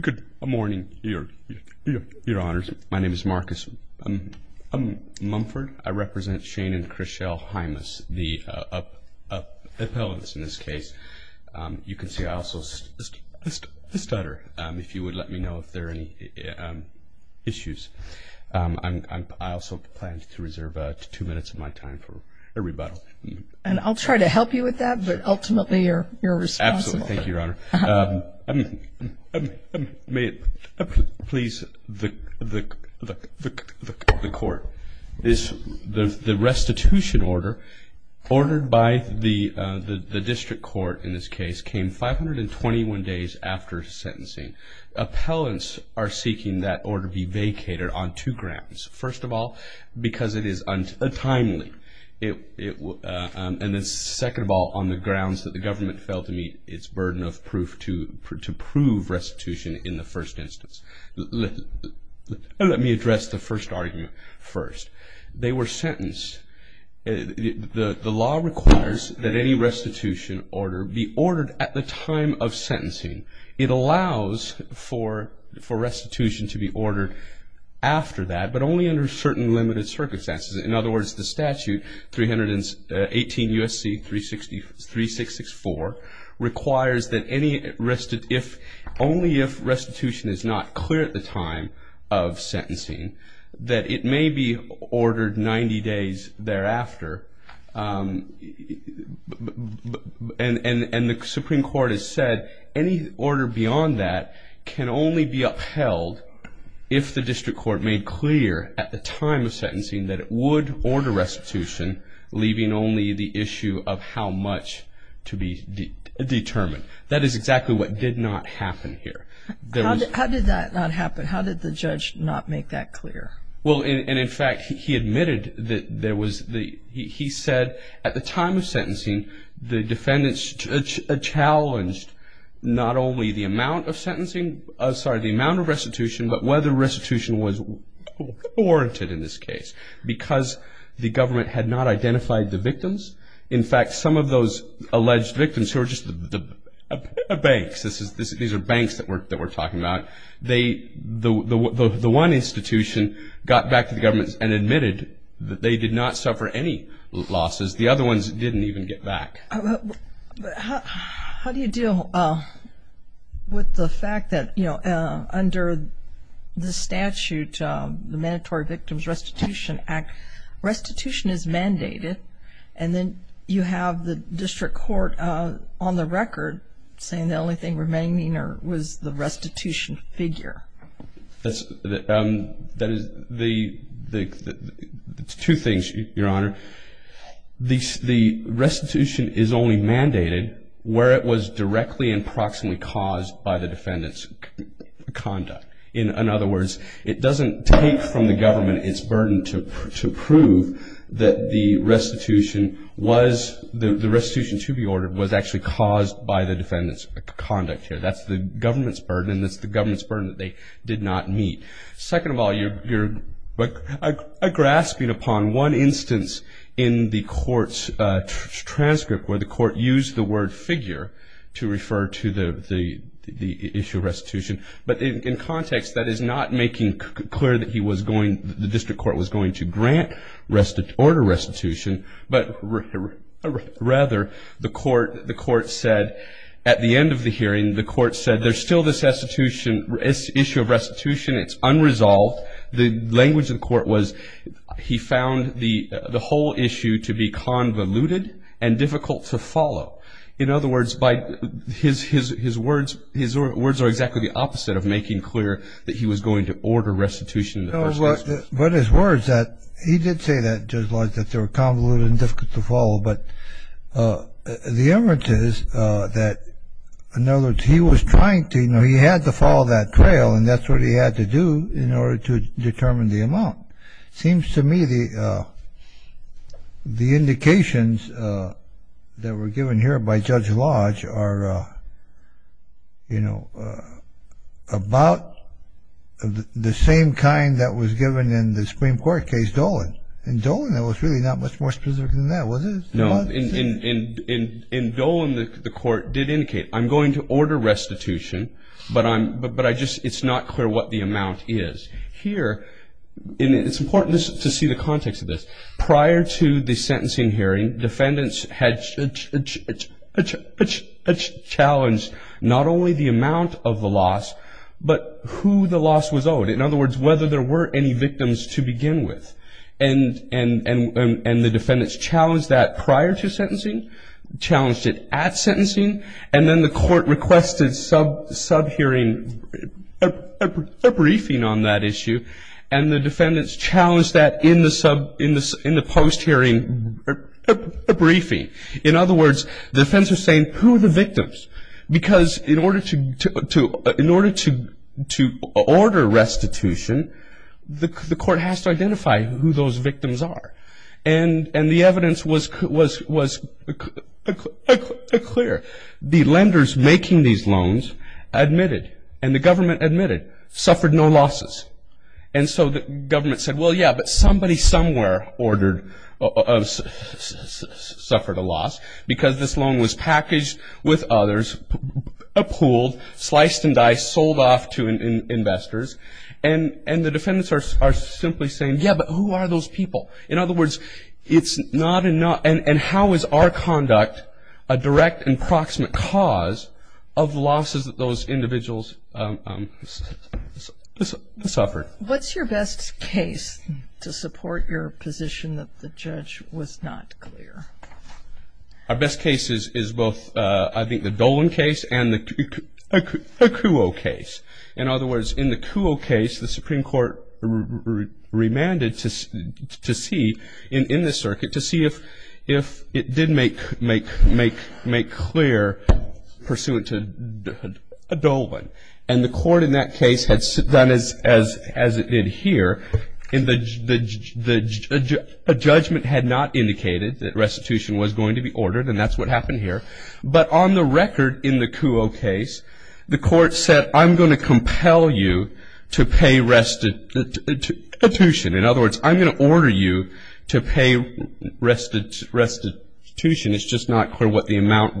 Good morning, your honors. My name is Marcus Mumford. I represent Shane and Chris Shell Hymas, the appellants in this case. You can see I also stutter. If you would let me know if there are any issues. I also plan to reserve two minutes of my time for a rebuttal. And I'll try to help you with that, but ultimately you're responsible. Absolutely. Thank you, your honor. May it please the court. The restitution order ordered by the district court in this case came 521 days after sentencing. Appellants are seeking that order be vacated on two grounds. First of all, because it is untimely. And then second of all, on the grounds that the government failed to meet its burden of proof to prove restitution in the first instance. Let me address the first argument first. They were sentenced. The law requires that any restitution order be ordered at the time of sentencing. It allows for restitution to be ordered after that, but only under certain limited circumstances. In other words, the statute 318 U.S.C. 3664 requires that only if restitution is not clear at the time of sentencing that it may be ordered 90 days thereafter. And the Supreme Court has said any order beyond that can only be upheld if the district court made clear at the time of sentencing that it would order restitution, leaving only the issue of how much to be determined. That is exactly what did not happen here. How did that not happen? How did the judge not make that clear? Well, and in fact, he admitted that there was the, he said at the time of sentencing, the defendants challenged not only the amount of sentencing, sorry, the amount of restitution, but whether restitution was warranted in this case. Because the government had not identified the victims. In fact, some of those alleged victims who are just the banks, these are banks that we're talking about, the one institution got back to the government and admitted that they did not suffer any losses. The other ones didn't even get back. How do you deal with the fact that, you know, under the statute, the Mandatory Victims Restitution Act, restitution is mandated and then you have the district court on the record saying the only thing remaining was the restitution figure? That is the, two things, Your Honor. The restitution is only mandated where it was directly and proximately caused by the defendant's conduct. In other words, it doesn't take from the government its burden to prove that the restitution was, the restitution to be ordered was actually caused by the defendant's conduct here. That's the government's burden and that's the government's burden that they did not meet. Second of all, you're grasping upon one instance in the court's transcript where the court used the word figure to refer to the issue of restitution. But in context, that is not making clear that he was going, the district court was going to grant, order restitution, but rather the court said at the end of the hearing, the court said there's still this restitution, this issue of restitution, it's unresolved. The language of the court was he found the whole issue to be convoluted and difficult to follow. In other words, his words are exactly the opposite of making clear that he was going to order restitution in the first instance. But his words that, he did say that, Judge Lodge, that they were convoluted and difficult to follow, but the evidence is that, in other words, he was trying to, you know, he had to follow that trail and that's what he had to do in order to determine the amount. Seems to me the indications that were given here by Judge Lodge are, you know, about the same kind that was given in the Supreme Court case, Dolan. In Dolan, it was really not much more specific than that, was it? No. In Dolan, the court did indicate, I'm going to order restitution, but I'm, but I just, it's not clear what the amount is. Here, it's important to see the context of this. Prior to the sentencing hearing, defendants had challenged not only the amount of the loss, but who the loss was owed. In other words, whether there were any victims to begin with. And the defendants challenged that prior to sentencing, challenged it at sentencing, and then the court requested sub-hearing, a briefing on that issue, and the defendants challenged that in the post-hearing briefing. In other words, the defense was saying, who are the victims? Because in order to order restitution, the court has to identify who those victims are. And the evidence was clear. The lenders making these loans admitted, and the government admitted, suffered no losses. And so the government said, well, yeah, but somebody somewhere ordered, suffered a loss because this loan was packaged with others, appooled, sliced and diced, sold off to investors. And the defendants are simply saying, yeah, but who are those people? In other words, it's not, and how is our conduct a direct and proximate cause of losses that those individuals suffered? What's your best case to support your position that the judge was not clear? Our best case is both, I think, the Dolan case and the Kuo case. In other words, in the Kuo case, the Supreme Court remanded to see, in this circuit, to see if it did make clear pursuant to a Dolan. And the court in that case had done as it did here. A judgment had not indicated that restitution was going to be ordered, and that's what happened here. But on the record in the Kuo case, the court said, I'm going to compel you to pay restitution. In other words, I'm going to order you to pay restitution. It's just not clear what the amount,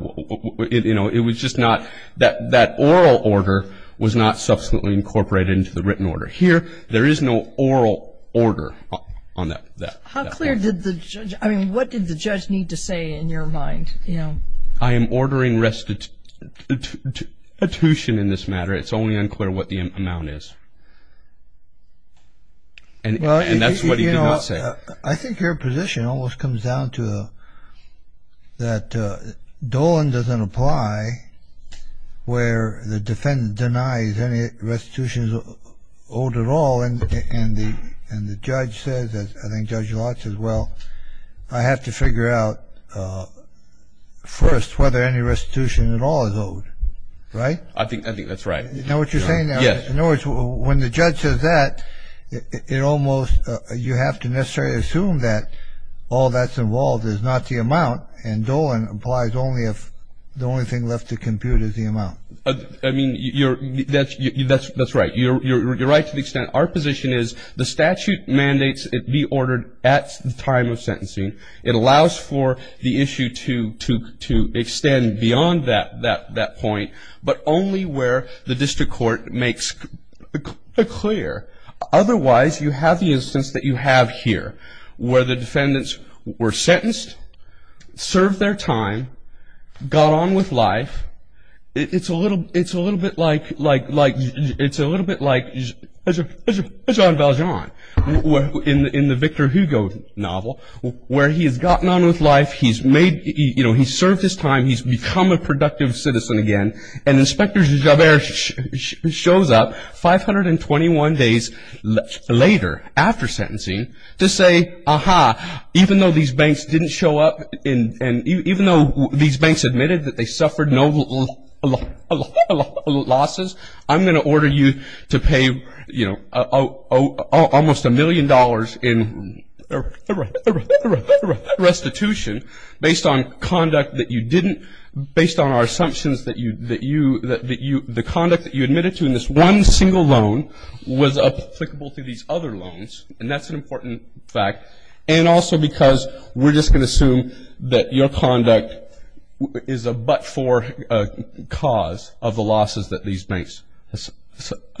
you know, it was just not, that oral order was not subsequently incorporated into the written order. Here, there is no oral order on that. How clear did the judge, I mean, what did the judge need to say in your mind, you know? I am ordering restitution in this matter. It's only unclear what the amount is. And that's what he did not say. I think your position almost comes down to that Dolan doesn't apply where the defendant denies any restitution owed at all. And the judge says, I think Judge Lott says, well, I have to figure out first whether any restitution at all is owed, right? I think that's right. You know what you're saying? Yes. In other words, when the judge says that, it almost, you have to necessarily assume that all that's involved is not the amount, and Dolan applies only if the only thing left to compute is the amount. I mean, that's right. You're right to the extent our position is the statute mandates it be ordered at the time of sentencing. It allows for the issue to extend beyond that point, but only where the district court makes it clear. Otherwise, you have the instance that you have here, where the defendants were sentenced, served their time, got on with life. It's a little bit like Jean Valjean in the Victor Hugo novel, where he's gotten on with life, he's served his time, he's become a productive citizen again, and Inspector Javert shows up 521 days later after sentencing to say, aha, even though these banks didn't show up, and even though these banks admitted that they suffered no losses, I'm going to order you to pay almost a million dollars in restitution based on conduct that you didn't, based on our assumptions that the conduct that you admitted to in this one single loan was applicable to these other loans, and that's an important fact, and also because we're just going to assume that your conduct is a but-for cause of the losses that these banks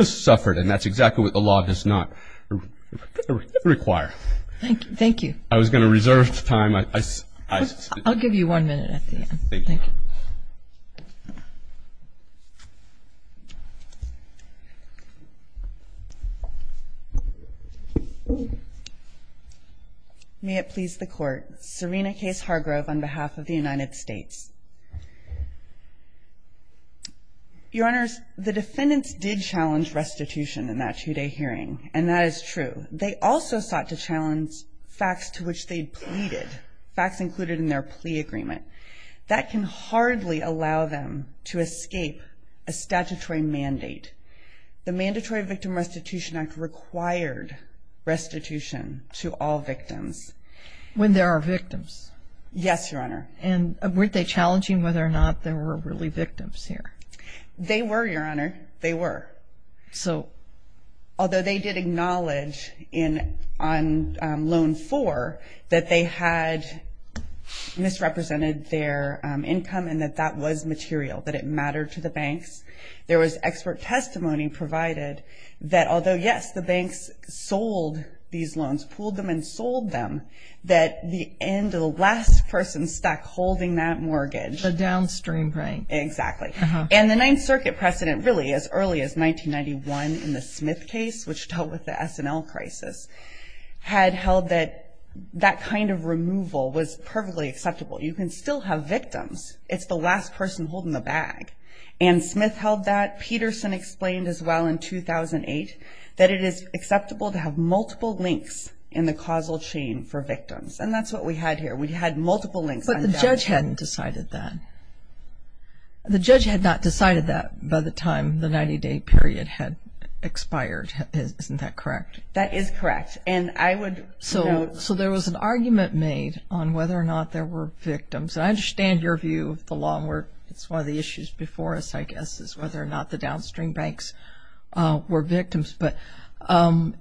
suffered, and that's exactly what the law does not require. Thank you. I was going to reserve time. I'll give you one minute at the end. Thank you. May it please the court. Serena Case Hargrove on behalf of the United States. Your Honors, the defendants did challenge restitution in that two-day hearing, and that is true. They also sought to challenge facts to which they pleaded, facts included in their plea agreement. That can hardly allow them to escape a statutory mandate. The Mandatory Victim Restitution Act required restitution to all victims. When there are victims. Yes, Your Honor. And weren't they challenging whether or not there were really victims here? They were, Your Honor. They were. So although they did acknowledge on Loan 4 that they had misrepresented their income and that that was material, that it mattered to the banks, there was expert testimony provided that although, yes, the banks sold these loans, pulled them and sold them, that the end, the last person stuck holding that mortgage. The downstream bank. Exactly. And the Ninth Circuit precedent really as early as 1991 in the Smith case, which dealt with the S&L crisis, had held that that kind of removal was perfectly acceptable. You can still have victims. It's the last person holding the bag. And Smith held that. Peterson explained as well in 2008 that it is acceptable to have multiple links in the causal chain for victims. And that's what we had here. We had multiple links. But the judge hadn't decided that. The judge had not decided that by the time the 90-day period had expired. Isn't that correct? That is correct. And I would. So there was an argument made on whether or not there were victims. I understand your view of the law. And it's one of the issues before us, I guess, is whether or not the downstream banks were victims. But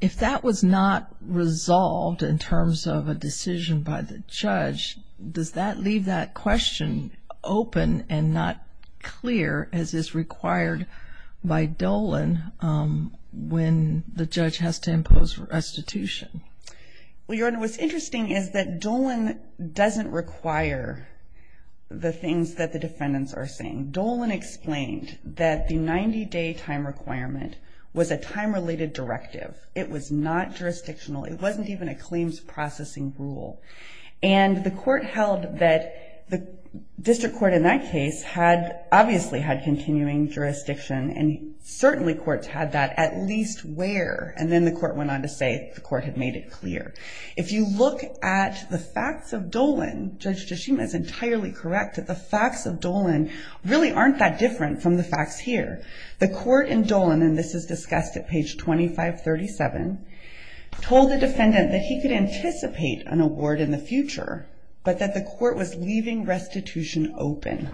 if that was not resolved in terms of a decision by the judge, does that leave that question open and not clear as is required by Dolan when the judge has to impose restitution? Well, Your Honor, what's interesting is that Dolan doesn't require the things that the defendants are saying. Dolan explained that the 90-day time requirement was a time-related directive. It was not jurisdictional. It wasn't even a claims processing rule. And the court held that the district court in that case had obviously had continuing jurisdiction. And certainly courts had that at least where. And then the court went on to say the court had made it clear. If you look at the facts of Dolan, Judge Tashima is entirely correct, that the facts of Dolan really aren't that different from the facts here. The court in Dolan, and this is discussed at page 2537, told the defendant that he could anticipate an award in the future, but that the court was leaving restitution open.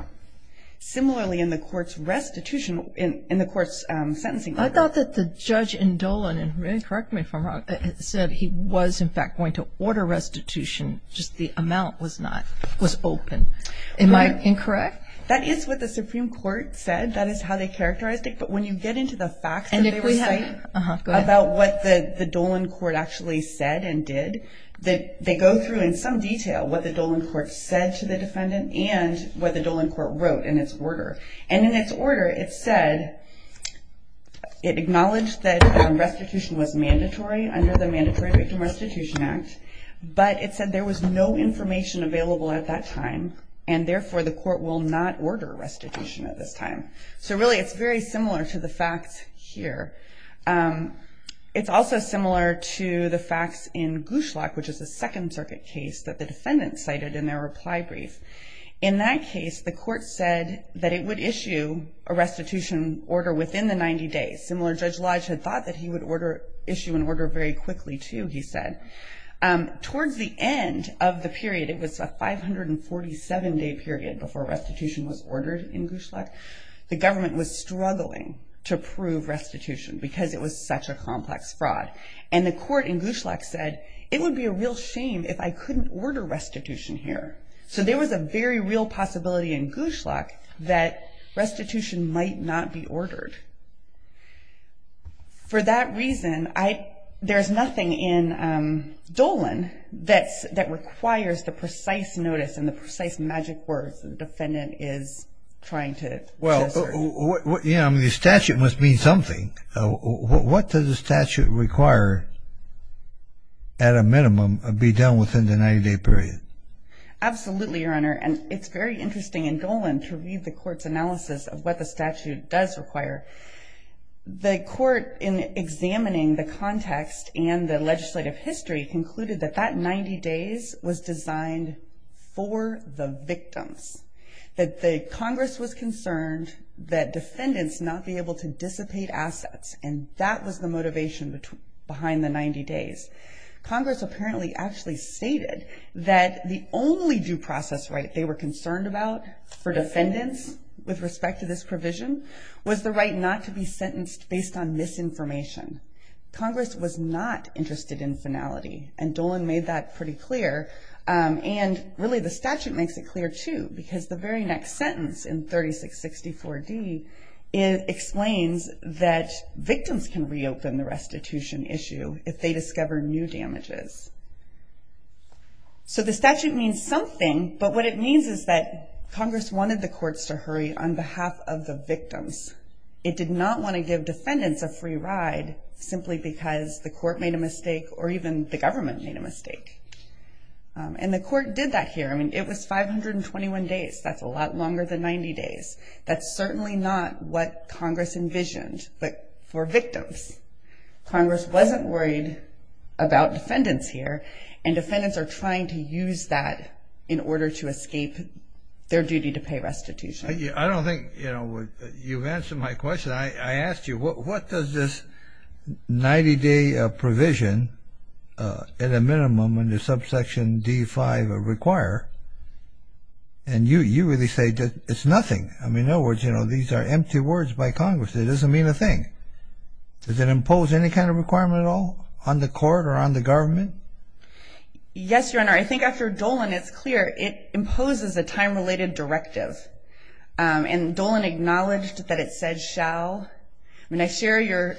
Similarly, in the court's restitution, in the court's sentencing. I thought that the judge in Dolan, and correct me if I'm wrong, said he was in fact going to order restitution, just the amount was not, was open. Am I incorrect? That is what the Supreme Court said. That is how they characterized it. But when you get into the facts that they were saying about what the Dolan court actually said and did, they go through in some detail what the Dolan court said to the defendant and what the Dolan court wrote in its order. And in its order, it said, it acknowledged that restitution was mandatory under the Mandatory Victim Restitution Act, but it said there was no information available at that time, and therefore the court will not order restitution at this time. So really, it's very similar to the facts here. It's also similar to the facts in Gushlak, which is a Second Circuit case that the defendant cited in their reply brief. In that case, the court said that it would issue a restitution order within the 90 days. Similar, Judge Lodge had thought that he would issue an order very quickly, too, he said. Towards the end of the period, it was a 547-day period before restitution was ordered in Gushlak, the government was struggling to prove restitution because it was such a complex fraud. And the court in Gushlak said, it would be a real shame if I couldn't order restitution here. So there was a very real possibility in Gushlak that restitution might not be ordered. For that reason, there's nothing in Dolan that requires the precise notice and the precise magic words the defendant is trying to say. Well, the statute must mean something. What does the statute require, at a minimum, to be done within the 90-day period? Absolutely, Your Honor. And it's very interesting in Dolan to read the court's analysis of what the statute does require. The court, in examining the context and the legislative history, concluded that that 90 days was designed for the victims. That the Congress was concerned that defendants not be able to dissipate assets. And that was the motivation behind the 90 days. Congress apparently actually stated that the only due process right they were concerned about for defendants, with respect to this provision, was the right not to be sentenced based on misinformation. Congress was not interested in finality. And Dolan made that pretty clear. And really, the statute makes it clear, too. Because the very next sentence in 3664D explains that victims can reopen the restitution issue if they discover new damages. So the statute means something. But what it means is that Congress wanted the courts to hurry on behalf of the victims. It did not want to give defendants a free ride simply because the court made a mistake or even the government made a mistake. And the court did that here. I mean, it was 521 days. That's a lot longer than 90 days. That's certainly not what Congress envisioned for victims. Congress wasn't worried about defendants here. And defendants are trying to use that in order to escape their duty to pay restitution. I don't think, you know, you've answered my question. I asked you, what does this 90-day provision at a minimum under subsection D5 require? And you really say that it's nothing. I mean, in other words, you know, these are empty words by Congress. It doesn't mean a thing. Does it impose any kind of requirement at all on the court or on the government? Yes, Your Honor. I think after Dolan, it's clear it imposes a time-related directive. And Dolan acknowledged that it said shall. I mean, I share your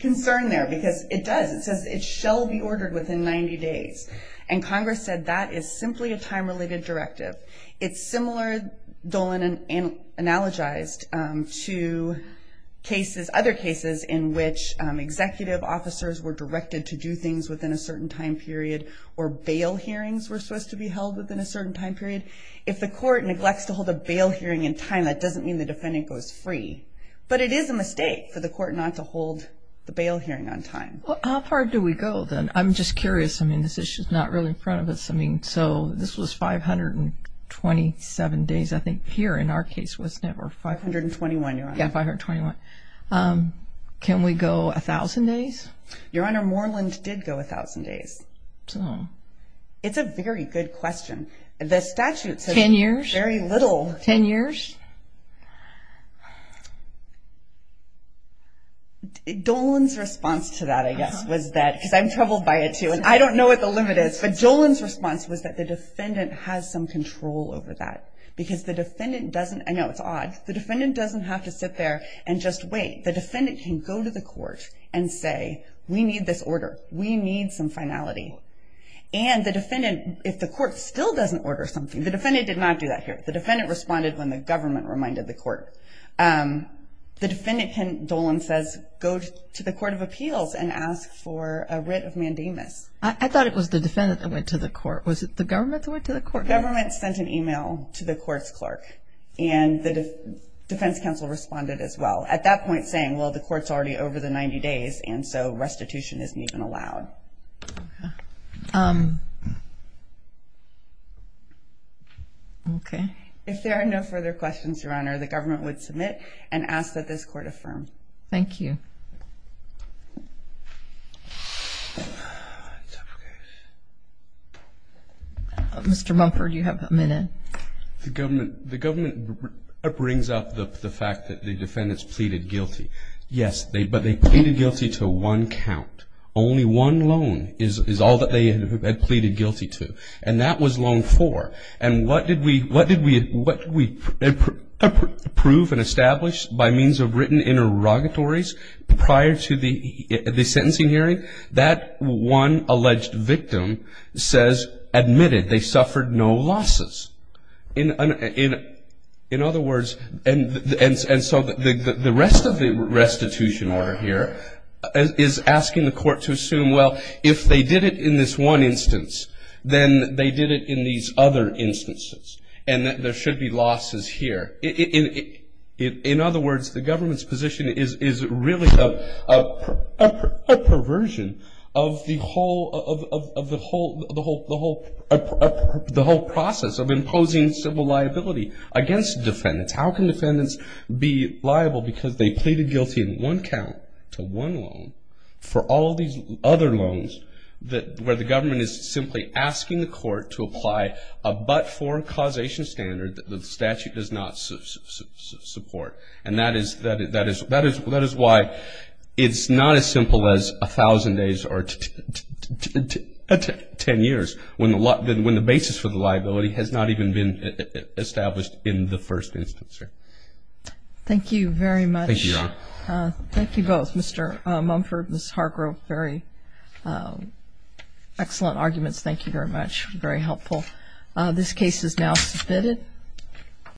concern there because it does. It says it shall be ordered within 90 days. And Congress said that is simply a time-related directive. It's similar, Dolan analogized, to cases, other cases in which executive officers were directed to do things within a certain time period or bail hearings were supposed to be held within a certain time period. If the court neglects to hold a bail hearing in time, that doesn't mean the defendant goes free. But it is a mistake for the court not to hold the bail hearing on time. Well, how far do we go then? I'm just curious. I mean, this issue is not really in front of us. I mean, so this was 527 days, I think, here in our case, wasn't it? Or 521, Your Honor. Yeah, 521. Can we go 1,000 days? Your Honor, Moreland did go 1,000 days. So? It's a very good question. The statute says very little. Ten years? Ten years. Dolan's response to that, I guess, was that, because I'm troubled by it, too, and I don't know what the limit is, but Dolan's response was that the defendant has some control over that. Because the defendant doesn't – I know, it's odd. The defendant doesn't have to sit there and just wait. The defendant can go to the court and say, we need this order. We need some finality. And the defendant, if the court still doesn't order something – the defendant did not do that here. The defendant responded when the government reminded the court. The defendant, Dolan says, go to the Court of Appeals and ask for a writ of mandamus. I thought it was the defendant that went to the court. Was it the government that went to the court? The government sent an e-mail to the court's clerk, and the defense counsel responded as well, at that point saying, well, the court's already over the 90 days, and so restitution isn't even allowed. Okay. Okay. If there are no further questions, Your Honor, the government would submit and ask that this court affirm. Thank you. Mr. Mumford, you have a minute. The government brings up the fact that the defendants pleaded guilty. Yes, but they pleaded guilty to one count. Only one loan is all that they had pleaded guilty to. And that was loan four. And what did we approve and establish by means of written interrogatories prior to the sentencing hearing? That one alleged victim says admitted they suffered no losses. In other words – and so the rest of the restitution order here is asking the court to assume, well, if they did it in this one instance, then they did it in these other instances, and that there should be losses here. In other words, the government's position is really a perversion of the whole process of imposing civil liability against defendants. How can defendants be liable because they pleaded guilty in one count to one loan for all of these other loans where the government is simply asking the court to apply a but-for causation standard that the statute does not support. And that is why it's not as simple as a thousand days or ten years when the basis for the liability has not even been Thank you very much. Thank you, Your Honor. Thank you both, Mr. Mumford, Ms. Hargrove. Very excellent arguments. Thank you very much. Very helpful. This case is now submitted.